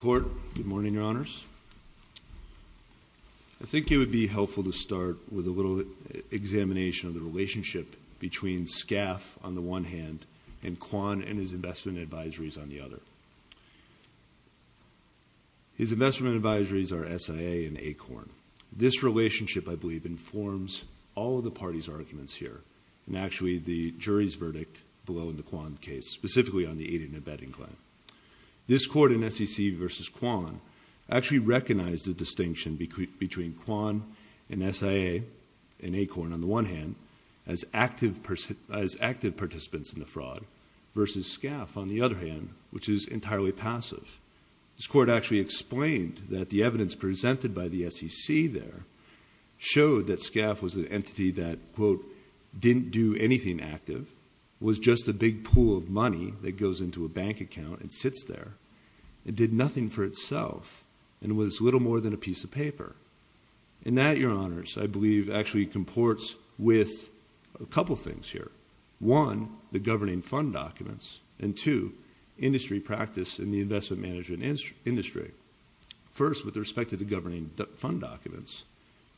Good morning, Your Honors. I think it would be helpful to start with a little examination of the relationship between SCAF on the one hand and Kwan and his investment advisories on the other. His investment advisories are SIA and ACORN. This relationship, I believe, informs all of the parties' arguments here, and actually the jury's verdict below in the Kwan case, specifically on the aid and abetting claim. This court in SEC v. Kwan actually recognized the distinction between Kwan and SIA and ACORN on the one hand as active participants in the fraud versus SCAF on the other hand, which is entirely passive. This court actually explained that the evidence presented by the SEC there showed that SCAF was an entity that, quote, didn't do anything active, was just a big pool of money that sits there, and did nothing for itself, and was little more than a piece of paper. And that, Your Honors, I believe, actually comports with a couple things here. One, the governing fund documents, and two, industry practice in the investment management industry. First, with respect to the governing fund documents,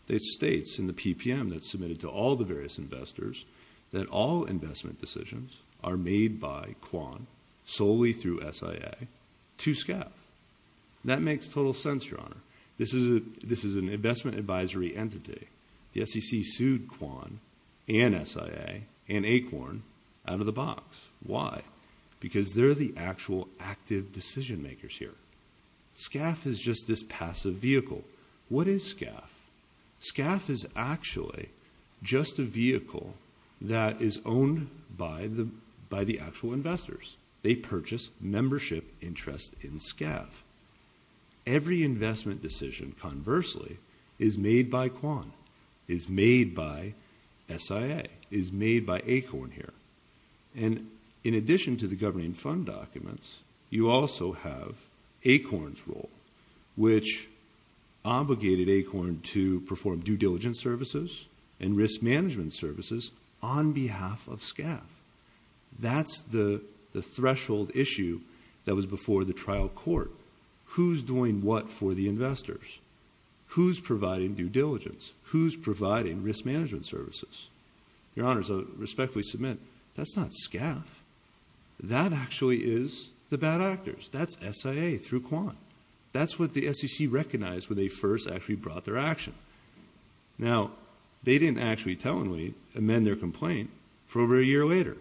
it states in the PPM that's submitted to all the various investors that all investment decisions are made by Kwan, solely through SIA, to SCAF. That makes total sense, Your Honor. This is an investment advisory entity. The SEC sued Kwan and SIA and ACORN out of the box. Why? Because they're the actual active decision makers here. SCAF is just this passive vehicle. What is SCAF? SCAF is actually just a vehicle that is owned by the actual investors. They purchase membership interest in SCAF. Every investment decision, conversely, is made by Kwan, is made by SIA, is made by ACORN here. And in addition to the governing fund documents, you also have ACORN's role, which obligated ACORN to perform due diligence services and risk management services on behalf of SCAF. That's the threshold issue that was before the trial court. Who's doing what for the investors? Who's providing due diligence? Who's providing risk management services? Your Honor, so respectfully submit, that's not SCAF. That actually is the bad actors. That's SIA through Kwan. That's what the SEC recognized when they first actually brought their action. Now they didn't actually tellingly amend their complaint for over a year later.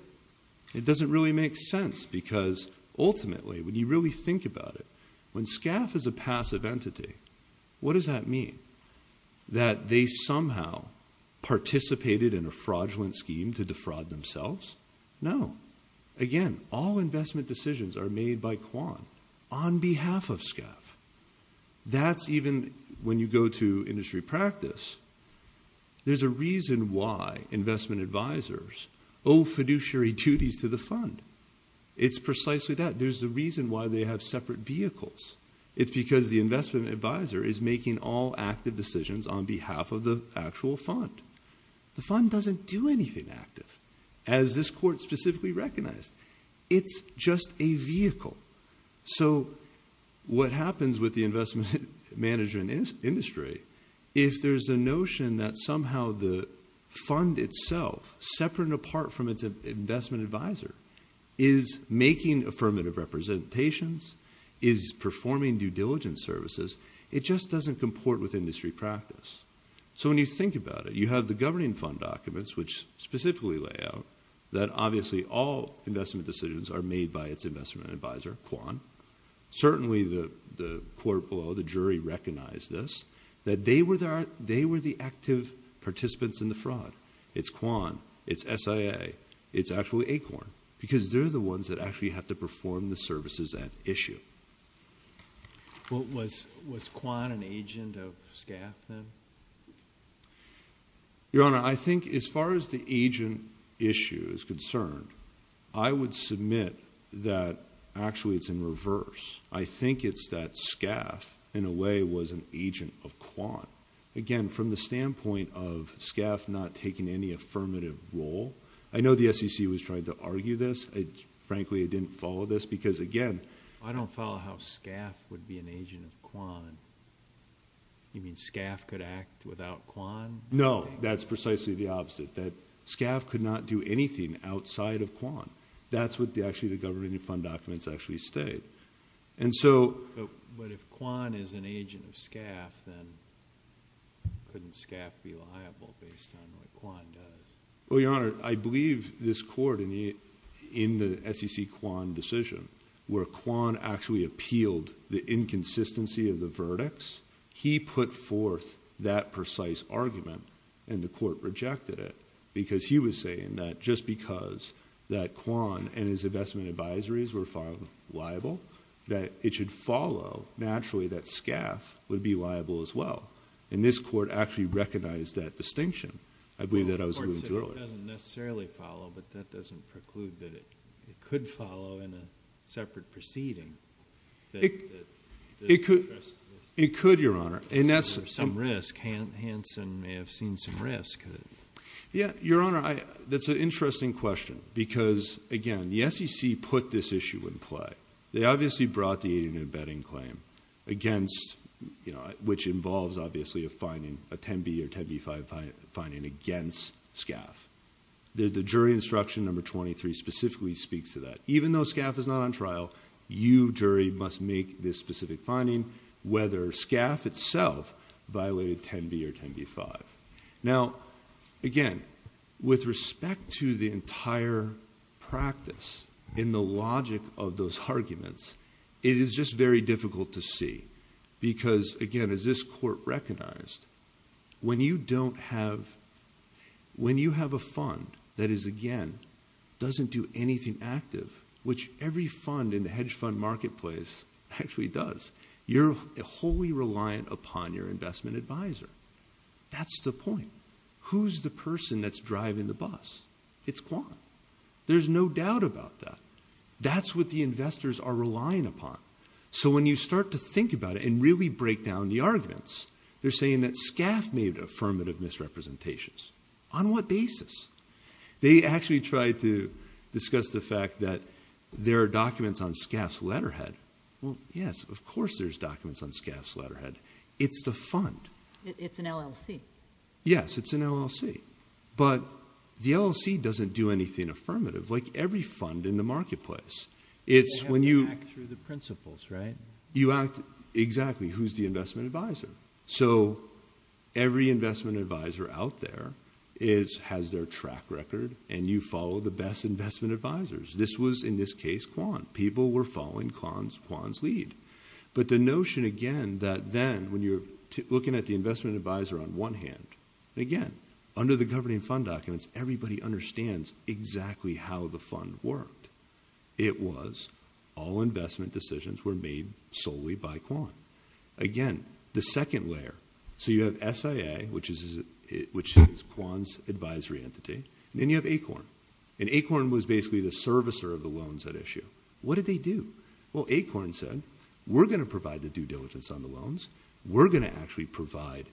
It doesn't really make sense because ultimately, when you really think about it, when SCAF is a passive entity, what does that mean? That they somehow participated in a fraudulent scheme to defraud themselves? No. Again, all investment decisions are made by Kwan on behalf of SCAF. That's even when you go to industry practice. There's a reason why investment advisors owe fiduciary duties to the fund. It's precisely that. There's a reason why they have separate vehicles. It's because the investment advisor is making all active decisions on behalf of the actual fund. The fund doesn't do anything active. As this court specifically recognized, it's just a vehicle. What happens with the investment manager in industry, if there's a notion that somehow the fund itself, separate and apart from its investment advisor, is making affirmative representations, is performing due diligence services, it just doesn't comport with industry practice. When you think about it, you have the governing fund documents, which specifically lay out that obviously all investment decisions are made by its investment advisor, Kwan. Certainly the court below, the jury recognized this, that they were the active participants in the fraud. It's Kwan. It's SIA. It's actually ACORN because they're the ones that actually have to perform the services at issue. Was Kwan an agent of SCAF then? Your Honor, I think as far as the agent issue is concerned, I would submit that actually it's in reverse. I think it's that SCAF in a way was an agent of Kwan. Again, from the standpoint of SCAF not taking any affirmative role, I know the SEC was trying to argue this. Frankly, I didn't follow this because again... I don't follow how SCAF would be an agent of Kwan. You mean SCAF could act without Kwan? No. That's precisely the opposite. SCAF could not do anything outside of Kwan. That's what actually the governing fund documents actually state. If Kwan is an agent of SCAF, then couldn't SCAF be liable based on what Kwan does? Your Honor, I believe this court in the SEC Kwan decision where Kwan actually appealed the inconsistency of the verdicts, he put forth that precise argument and the court rejected it because he was saying that just because that Kwan and his investment advisories were filed liable, that it should follow naturally that SCAF would be liable as well. This court actually recognized that distinction. I believe that I was alluded to earlier. The court said it doesn't necessarily follow, but that doesn't preclude that it could follow in a separate proceeding that... It could, Your Honor, and that's... Some risk. Hansen may have seen some risk. Your Honor, that's an interesting question because again, the SEC put this issue in play. They obviously brought the aiding and abetting claim against... which involves obviously a finding, a 10b or 10b-5 finding against SCAF. The jury instruction number 23 specifically speaks to that. Even though SCAF is not on trial, you, jury, must make this specific finding whether SCAF itself violated 10b or 10b-5. Now again, with respect to the entire practice in the logic of those arguments, it is just very difficult to see because again, as this court recognized, when you don't have... when you have a fund that is, again, doesn't do anything active, which every fund in the hedge fund marketplace actually does, you're wholly reliant upon your investment advisor. That's the point. Who's the person that's driving the bus? It's Quan. There's no doubt about that. That's what the investors are relying upon. So when you start to think about it and really break down the arguments, they're saying that SCAF made affirmative misrepresentations. On what basis? They actually tried to discuss the fact that there are documents on SCAF's letterhead. Well, yes, of course there's documents on SCAF's letterhead. It's the fund. It's an LLC. Yes, it's an LLC. But the LLC doesn't do anything affirmative like every fund in the marketplace. It's when you... They have to act through the principles, right? You act... exactly. Who's the investment advisor? So every investment advisor out there has their track record and you follow the best investment advisors. This was, in this case, Quan. People were following Quan's lead. But the notion, again, that then when you're looking at the investment advisor on one hand, and again, under the governing fund documents, everybody understands exactly how the fund worked. It was all investment decisions were made solely by Quan. Again, the second layer. So you have SIA, which is Quan's advisory entity, and then you have ACORN. And ACORN was basically the servicer of the loans at issue. What did they do? Well, ACORN said, we're going to provide the due diligence on the loans. We're going to actually provide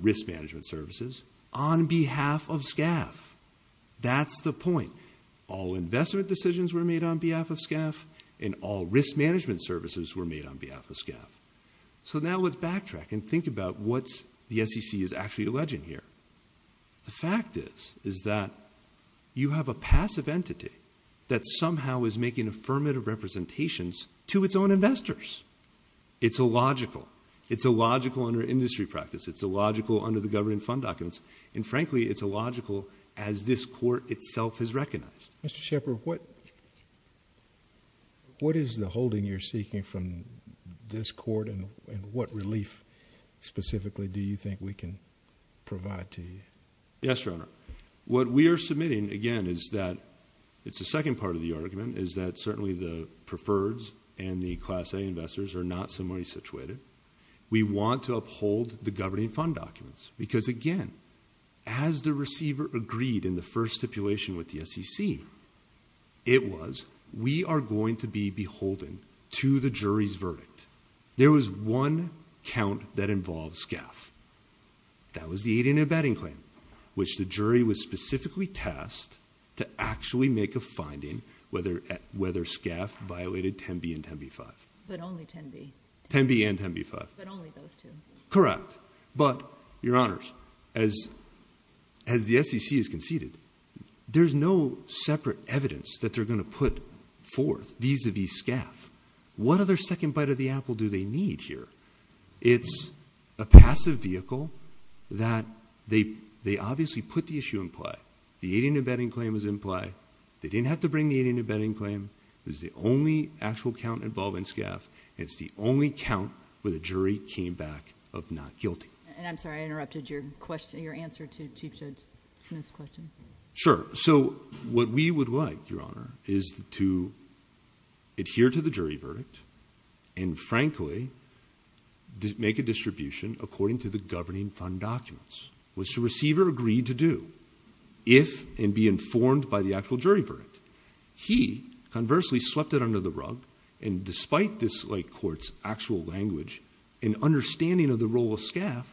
risk management services on behalf of SCAF. That's the point. All investment decisions were made on behalf of SCAF and all risk management services were made on behalf of SCAF. So now let's backtrack and think about what the SEC is actually alleging here. The fact is, is that you have a passive entity that somehow is making affirmative representations to its own investors. It's illogical. It's illogical under industry practice. It's illogical under the governing fund documents. And frankly, it's illogical as this court itself has recognized. Mr. Shepard, what is the holding you're seeking from this court and what relief specifically do you think we can provide to you? Yes, Your Honor. What we are submitting, again, is that it's the second part of the argument, is that certainly the preferreds and the Class A investors are not similarly situated. We want to uphold the governing fund documents because, again, as the receiver agreed in the first stipulation with the SEC, it was, we are going to be beholden to the jury's verdict. There was one count that involved SCAF. That was the aid and abetting claim, which the jury was specifically tasked to actually make a finding whether SCAF violated 10b and 10b-5. But only 10b. 10b and 10b-5. But only those two. Correct. But, Your Honors, as the SEC has conceded, there's no separate evidence that they're going to put forth vis-a-vis SCAF. What other second bite of the apple do they need here? It's a passive vehicle that they obviously put the issue in play. The aid and abetting claim was in play. They didn't have to bring the aid and abetting claim. It was the only actual count involving SCAF. It's the only count where the jury came back of not guilty. I'm sorry. I interrupted your answer to Chief Judge Smith's question. Sure. What we would like, Your Honor, is to adhere to the jury verdict and, frankly, make a distribution according to the governing fund documents, which the receiver agreed to do, if and be informed by the actual jury verdict. He, conversely, swept it under the rug and, despite this light court's actual language and understanding of the role of SCAF,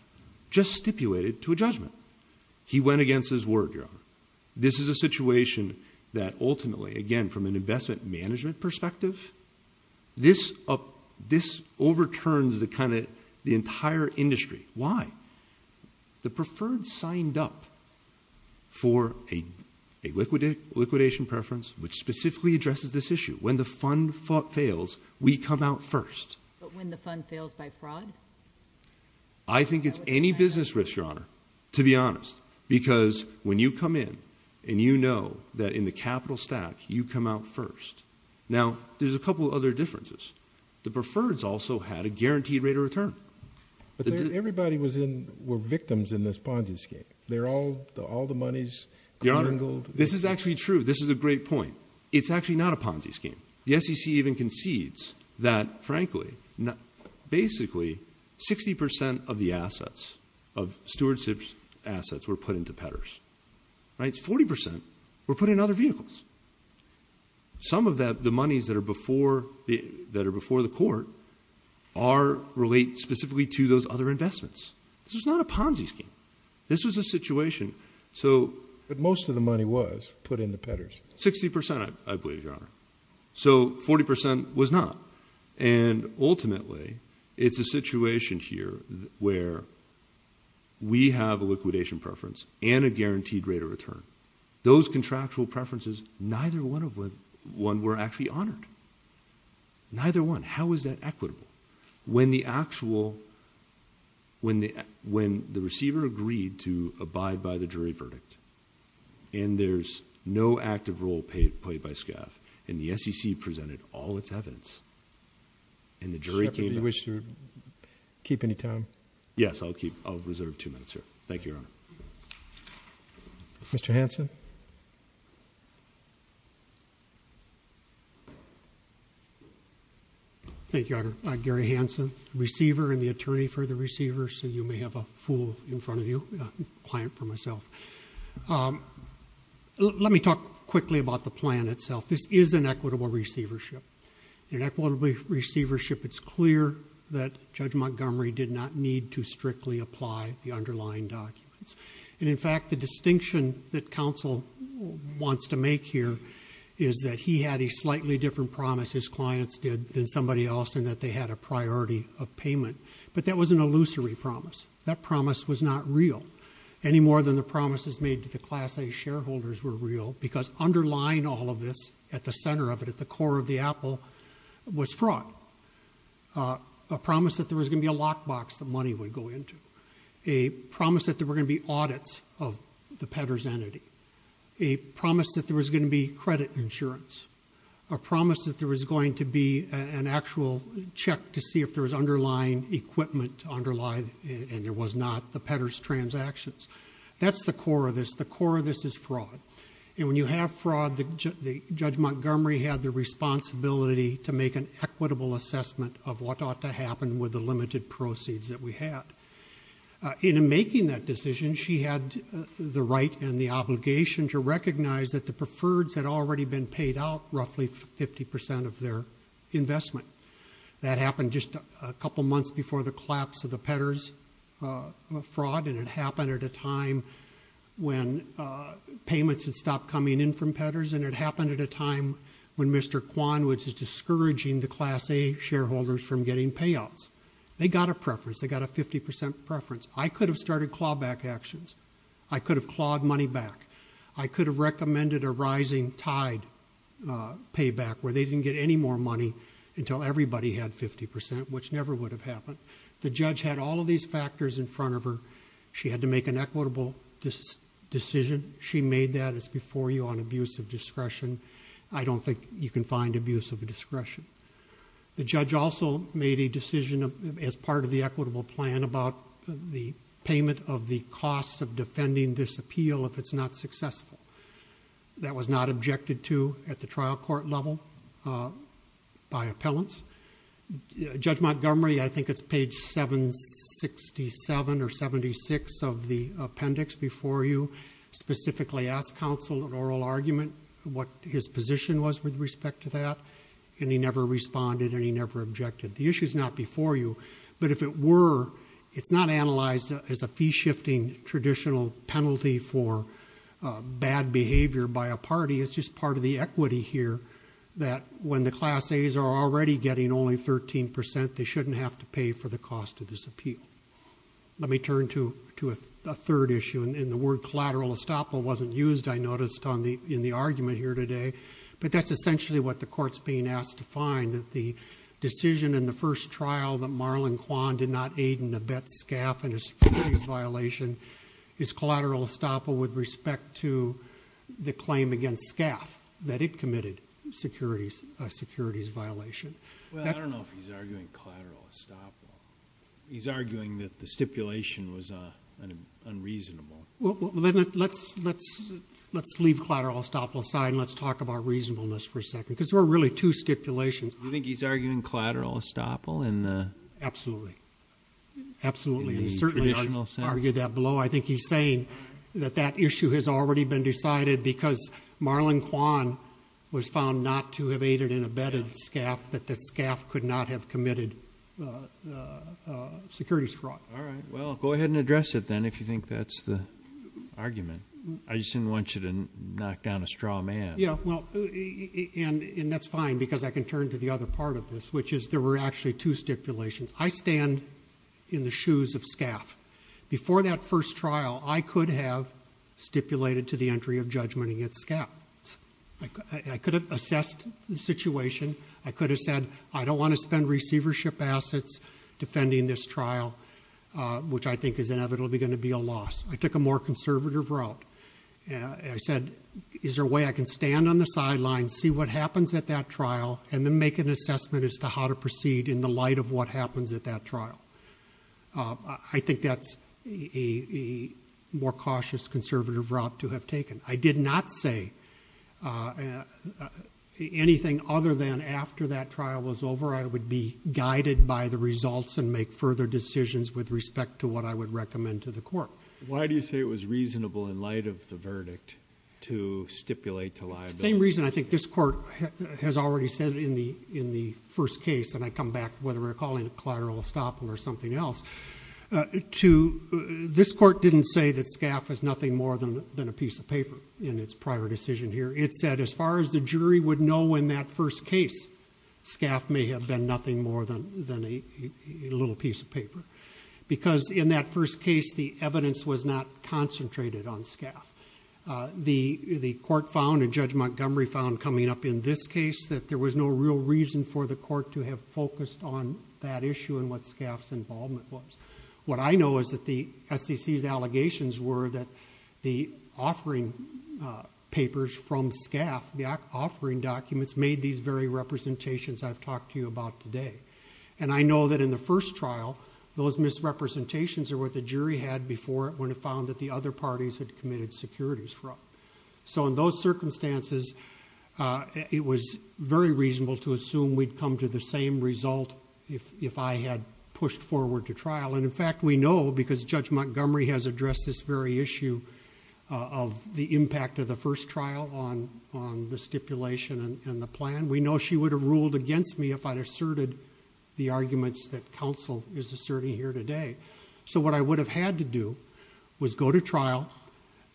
just stipulated to a judgment. He went against his word, Your Honor. This is a situation that, ultimately, again, from an investment management perspective, this overturns the entire industry. Why? The preferred signed up for a liquidation preference, which specifically addresses this issue. When the fund fails, we come out first. But when the fund fails by fraud? I think it's any business risk, Your Honor, to be honest, because when you come in and you know that in the capital stack, you come out first. Now, there's a couple of other differences. The preferreds also had a guaranteed rate of return. But everybody was in, were victims in this Ponzi scheme. They're all, all the money's clangled. Your Honor, this is actually true. This is a great point. It's actually not a Ponzi scheme. The SEC even concedes that, frankly, basically, 60% of the assets, of stewardship's assets were put into Pedders. Right? 40% were put in other vehicles. Some of that, the monies that are before, that are before the court are, relate specifically to those other investments. This was not a Ponzi scheme. This was a situation. So... But most of the money was put in the Pedders. 60%, I believe, Your Honor. So 40% was not. And ultimately, it's a situation here where we have a liquidation preference and a guaranteed rate of return. Those contractual preferences, neither one of them were actually honored. Neither one. How is that equitable? When the actual, when the receiver agreed to abide by the jury verdict, and there's no active role played by SCAF, and the SEC presented all its evidence, and the jury came back... Superintendent, do you wish to keep any time? Yes. I'll keep, I'll reserve two minutes here. Thank you, Your Honor. Mr. Hanson? Thank you, Your Honor. I'm Gary Hanson, receiver and the attorney for the receiver, so you may have a fool in front of you, a client for myself. Let me talk quickly about the plan itself. This is an equitable receivership. In equitable receivership, it's clear that Judge Montgomery did not need to strictly apply the underlying documents, and in fact, the distinction that counsel wants to make here is that he had a slightly different promise his clients did than somebody else in that they had a priority of payment, but that was an illusory promise. That promise was not real, any more than the promises made to the Class A shareholders were real, because underlying all of this at the center of it, at the core of the apple, was fraud, a promise that there was going to be a lockbox that money would go into, a promise that there were going to be audits of the peddler's entity, a promise that there was going to be credit insurance, a promise that there was going to be an actual check to see if there was underlying equipment, and there was not the peddler's transactions. That's the core of this. The core of this is fraud. And when you have fraud, Judge Montgomery had the responsibility to make an equitable assessment of what ought to happen with the limited proceeds that we had. In making that decision, she had the right and the obligation to recognize that the preferreds had already been paid out roughly 50% of their investment. That happened just a couple months before the collapse of the peddler's fraud, and it happened at a time when payments had stopped coming in from peddlers, and it happened at a time when Mr. Kwan was discouraging the Class A shareholders from getting payouts. They got a preference. They got a 50% preference. I could have started clawback actions. I could have clawed money back. I could have recommended a rising tide payback where they didn't get any more money until everybody had 50%, which never would have happened. The judge had all of these factors in front of her. She had to make an equitable decision. She made that. It's before you on abuse of discretion. I don't think you can find abuse of discretion. The judge also made a decision as part of the equitable plan about the payment of the cost of defending this appeal if it's not successful. That was not objected to at the trial court level by appellants. Judge Montgomery, I think it's page 767 or 76 of the appendix before you, specifically asked counsel an oral argument, what his position was with respect to that. And he never responded, and he never objected. The issue's not before you, but if it were, it's not analyzed as a fee-shifting traditional penalty for bad behavior by a party. It's just part of the equity here that when the class A's are already getting only 13%, they shouldn't have to pay for the cost of this appeal. Let me turn to a third issue, and the word collateral estoppel wasn't used, I noticed, in the argument here today. But that's essentially what the court's being asked to find, that the decision in the first trial that Marlon Kwan did not aid in the Betz-Skaff and his securities violation is collateral estoppel with respect to the claim against Skaff that it committed a securities violation. Well, I don't know if he's arguing collateral estoppel. He's arguing that the stipulation was unreasonable. Well, let's leave collateral estoppel aside and let's talk about reasonableness for a second. Because there are really two stipulations. Do you think he's arguing collateral estoppel in the- Absolutely, absolutely. And he certainly argued that below. I think he's saying that that issue has already been decided because Marlon Kwan was found not to have aided in a Betz-Skaff, that the Skaff could not have committed the securities fraud. All right, well, go ahead and address it then if you think that's the argument. I just didn't want you to knock down a straw man. Yeah, well, and that's fine because I can turn to the other part of this, which is there were actually two stipulations. I stand in the shoes of Skaff. Before that first trial, I could have stipulated to the entry of judgment against Skaff. I could have assessed the situation. I could have said, I don't want to spend receivership assets defending this trial, which I think is inevitably going to be a loss. I took a more conservative route. I said, is there a way I can stand on the sidelines, see what happens at that trial, and then make an assessment as to how to proceed in the light of what happens at that trial? I think that's a more cautious, conservative route to have taken. I did not say anything other than after that trial was over, I would be guided by the results and make further decisions with respect to what I would recommend to the court. Why do you say it was reasonable in light of the verdict to stipulate to liability? The same reason I think this court has already said in the first case, and I come back to whether we're calling it collateral estoppel or something else. This court didn't say that Skaff was nothing more than a piece of paper in its prior decision here. It said as far as the jury would know in that first case, Skaff may have been nothing more than a little piece of paper. Because in that first case, the evidence was not concentrated on Skaff. The court found, and Judge Montgomery found coming up in this case, that there was no real reason for the court to have focused on that issue and what Skaff's involvement was. What I know is that the SEC's allegations were that the offering papers from Skaff, the offering documents, made these very representations I've talked to you about today. And I know that in the first trial, those misrepresentations are what the jury had before, when it found that the other parties had committed securities fraud. So in those circumstances, it was very reasonable to assume we'd come to the same result if I had pushed forward to trial. And in fact, we know, because Judge Montgomery has addressed this very issue of the impact of the first trial on the stipulation and the plan. We know she would have ruled against me if I'd asserted the arguments that counsel is asserting here today. So what I would have had to do was go to trial,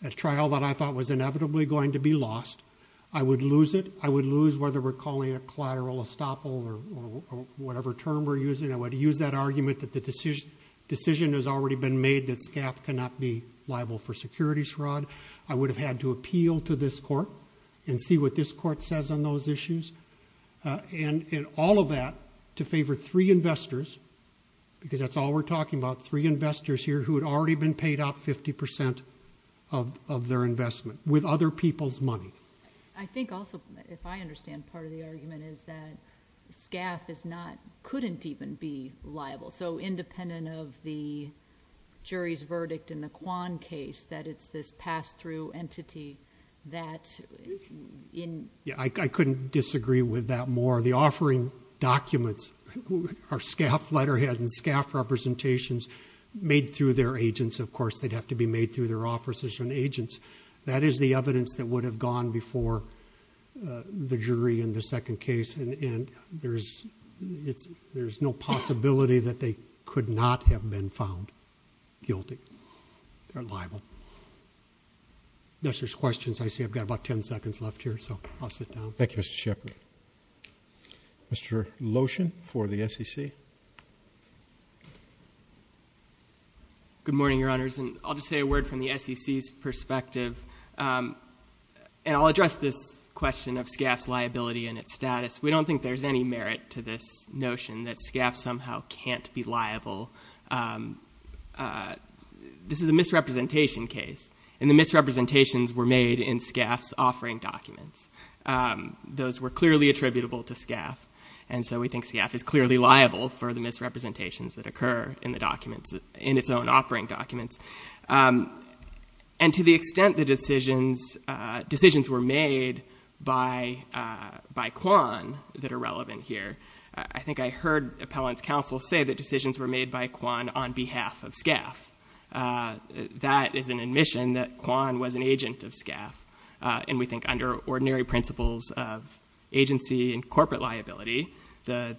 a trial that I thought was inevitably going to be lost. I would lose it, I would lose whether we're calling it collateral estoppel or whatever term we're using. I would use that argument that the decision has already been made that Skaff cannot be liable for security fraud. I would have had to appeal to this court and see what this court says on those issues. And in all of that, to favor three investors, because that's all we're talking about, three investors here who had already been paid out 50% of their investment with other people's money. I think also, if I understand part of the argument is that Skaff couldn't even be liable. So independent of the jury's verdict in the Kwan case, that it's this pass through entity that in- I couldn't disagree with that more. The offering documents are Skaff letterhead and Skaff representations made through their agents. Of course, they'd have to be made through their officers and agents. That is the evidence that would have gone before the jury in the second case. And there's no possibility that they could not have been found guilty or liable. Unless there's questions, I see I've got about ten seconds left here, so I'll sit down. Thank you, Mr. Shepherd. Mr. Lotion for the SEC. Good morning, your honors. And I'll just say a word from the SEC's perspective, and I'll address this question of Skaff's liability and its status. We don't think there's any merit to this notion that Skaff somehow can't be liable. This is a misrepresentation case, and the misrepresentations were made in Skaff's offering documents. Those were clearly attributable to Skaff, and so we think Skaff is clearly liable for the misrepresentations that occur in the documents, in its own offering documents. And to the extent the decisions were made by Kwan that are relevant here. I think I heard appellant's counsel say that decisions were made by Kwan on behalf of Skaff. That is an admission that Kwan was an agent of Skaff. And we think under ordinary principles of agency and corporate liability, the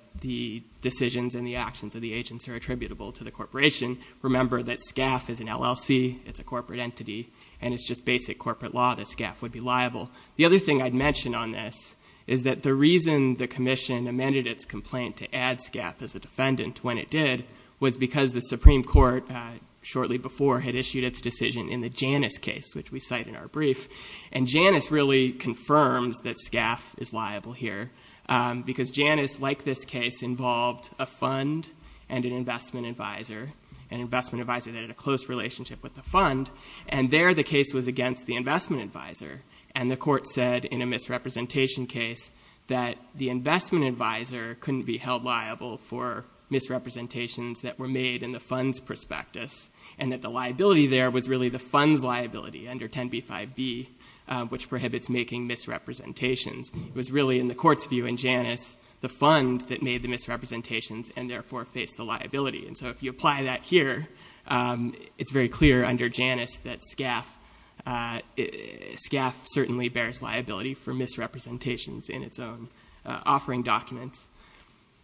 decisions and the actions of the agents are attributable to the corporation. Remember that Skaff is an LLC, it's a corporate entity, and it's just basic corporate law that Skaff would be liable. The other thing I'd mention on this is that the reason the commission amended its complaint to add Skaff as a defendant when it did, was because the Supreme Court, shortly before, had issued its decision in the Janus case, which we cite in our brief. And Janus really confirms that Skaff is liable here, because Janus, like this case, involved a fund and an investment advisor, an investment advisor that had a close relationship with the fund. And there, the case was against the investment advisor. And the court said, in a misrepresentation case, that the investment advisor couldn't be held liable for misrepresentations that were made in the fund's prospectus. And that the liability there was really the fund's liability under 10b-5b, which prohibits making misrepresentations. It was really, in the court's view in Janus, the fund that made the misrepresentations and therefore faced the liability. And so if you apply that here, it's very clear under Janus that Skaff certainly bears liability for misrepresentations in its own offering documents.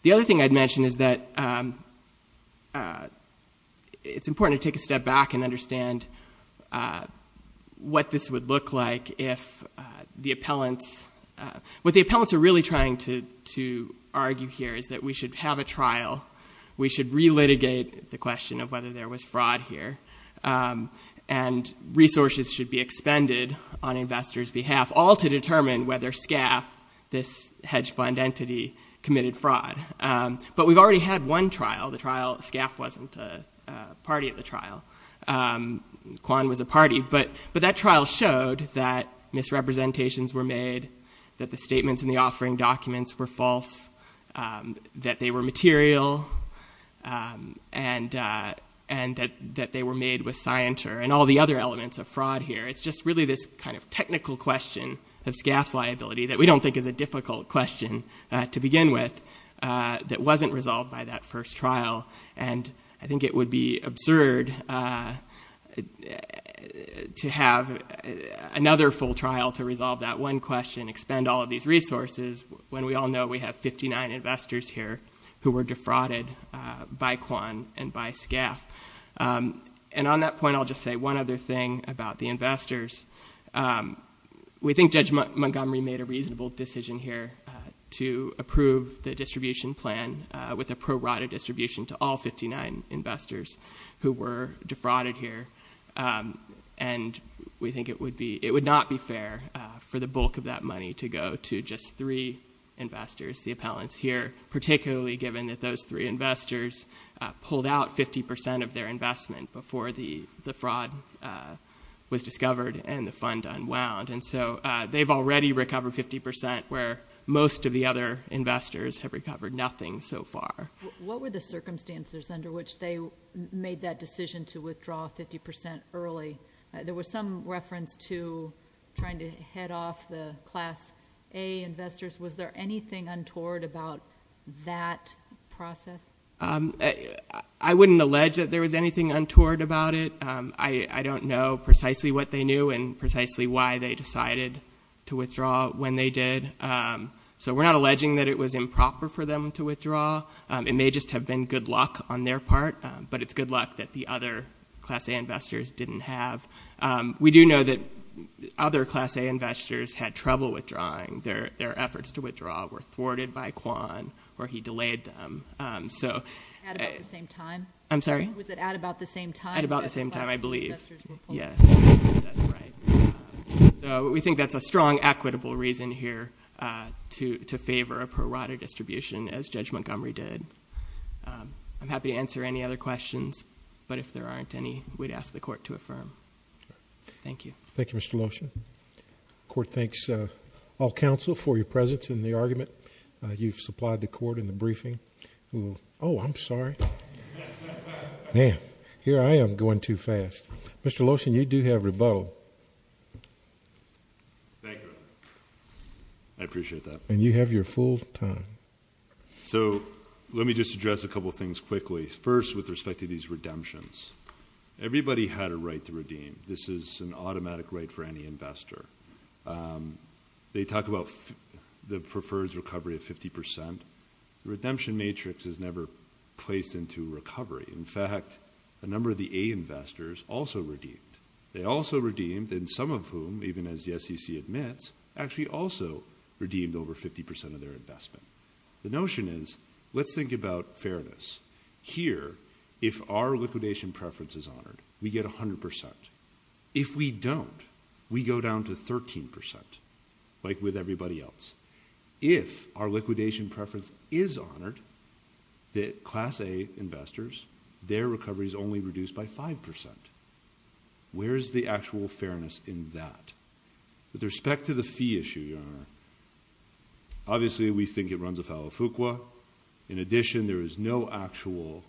The other thing I'd mention is that it's important to take a step back and understand what this would look like if the appellants. What the appellants are really trying to argue here is that we should have a trial. We should re-litigate the question of whether there was fraud here. And resources should be expended on investors behalf, all to determine whether Skaff, this hedge fund entity, committed fraud. But we've already had one trial. The trial, Skaff wasn't a party at the trial. Kwan was a party, but that trial showed that misrepresentations were made, that the statements in the offering documents were false, that they were material, and that they were made with scienter and all the other elements of fraud here. It's just really this kind of technical question of Skaff's liability that we don't think is a difficult question to begin with. That wasn't resolved by that first trial. And I think it would be absurd to have another full trial to resolve that one question, expend all of these resources, when we all know we have 59 investors here who were defrauded by Kwan and by Skaff. And on that point, I'll just say one other thing about the investors. We think Judge Montgomery made a reasonable decision here to approve the distribution plan with a pro-rata distribution to all 59 investors who were defrauded here. And we think it would not be fair for the bulk of that money to go to just three investors, the appellants here. Particularly given that those three investors pulled out 50% of their investment before the fraud was discovered and the fund unwound. And so they've already recovered 50% where most of the other investors have recovered nothing so far. What were the circumstances under which they made that decision to withdraw 50% early? There was some reference to trying to head off the class A investors. Was there anything untoward about that process? I wouldn't allege that there was anything untoward about it. I don't know precisely what they knew and precisely why they decided to withdraw when they did. So we're not alleging that it was improper for them to withdraw. It may just have been good luck on their part, but it's good luck that the other class A investors didn't have. We do know that other class A investors had trouble withdrawing. Their efforts to withdraw were thwarted by Kwan, or he delayed them. So- At about the same time? I'm sorry? Was it at about the same time? At about the same time, I believe. Yes, that's right. So we think that's a strong equitable reason here to favor a pro rata distribution, as Judge Montgomery did. I'm happy to answer any other questions, but if there aren't any, we'd ask the court to affirm. Thank you. Thank you, Mr. Lotion. The court thanks all counsel for your presence in the argument. You've supplied the court in the briefing. Oh, I'm sorry. Man, here I am going too fast. Mr. Lotion, you do have rebuttal. Thank you. I appreciate that. And you have your full time. So, let me just address a couple things quickly. First, with respect to these redemptions. Everybody had a right to redeem. This is an automatic right for any investor. They talk about the preferred recovery of 50%. The redemption matrix is never placed into recovery. In fact, a number of the A investors also redeemed. They also redeemed, and some of whom, even as the SEC admits, actually also redeemed over 50% of their investment. The notion is, let's think about fairness. Here, if our liquidation preference is honored, we get 100%. If we don't, we go down to 13%, like with everybody else. If our liquidation preference is honored, that class A investors, their recovery is only reduced by 5%. Where's the actual fairness in that? With respect to the fee issue, Your Honor, obviously, we think it runs afoul of FUQA. In addition, there is no actual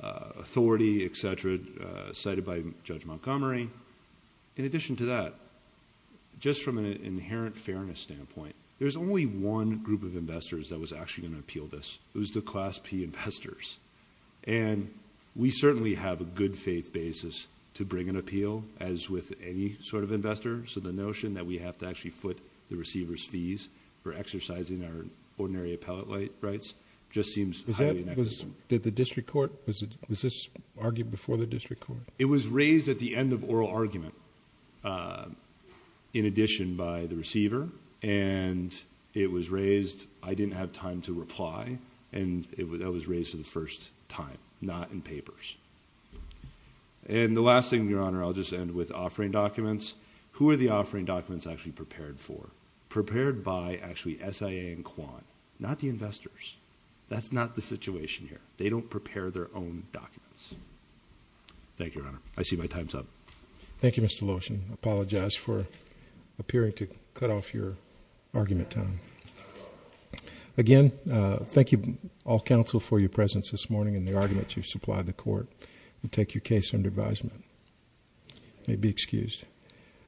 authority, etc., cited by Judge Montgomery. In addition to that, just from an inherent fairness standpoint, there's only one group of investors that was actually going to appeal this. It was the class P investors. And we certainly have a good faith basis to bring an appeal, as with any sort of investor. So the notion that we have to actually foot the receiver's fees for exercising our ordinary appellate rights just seems highly inexcusable. Did the district court, was this argued before the district court? It was raised at the end of oral argument, in addition by the receiver. And it was raised, I didn't have time to reply. And that was raised for the first time, not in papers. And the last thing, Your Honor, I'll just end with offering documents. Who are the offering documents actually prepared for? Prepared by, actually, SIA and Quan, not the investors. That's not the situation here. They don't prepare their own documents. Thank you, Your Honor. I see my time's up. Thank you, Mr. Lotion. Apologize for appearing to cut off your argument time. Again, thank you, all counsel, for your presence this morning and the argument you've supplied the court. We take your case under advisement. You may be excused.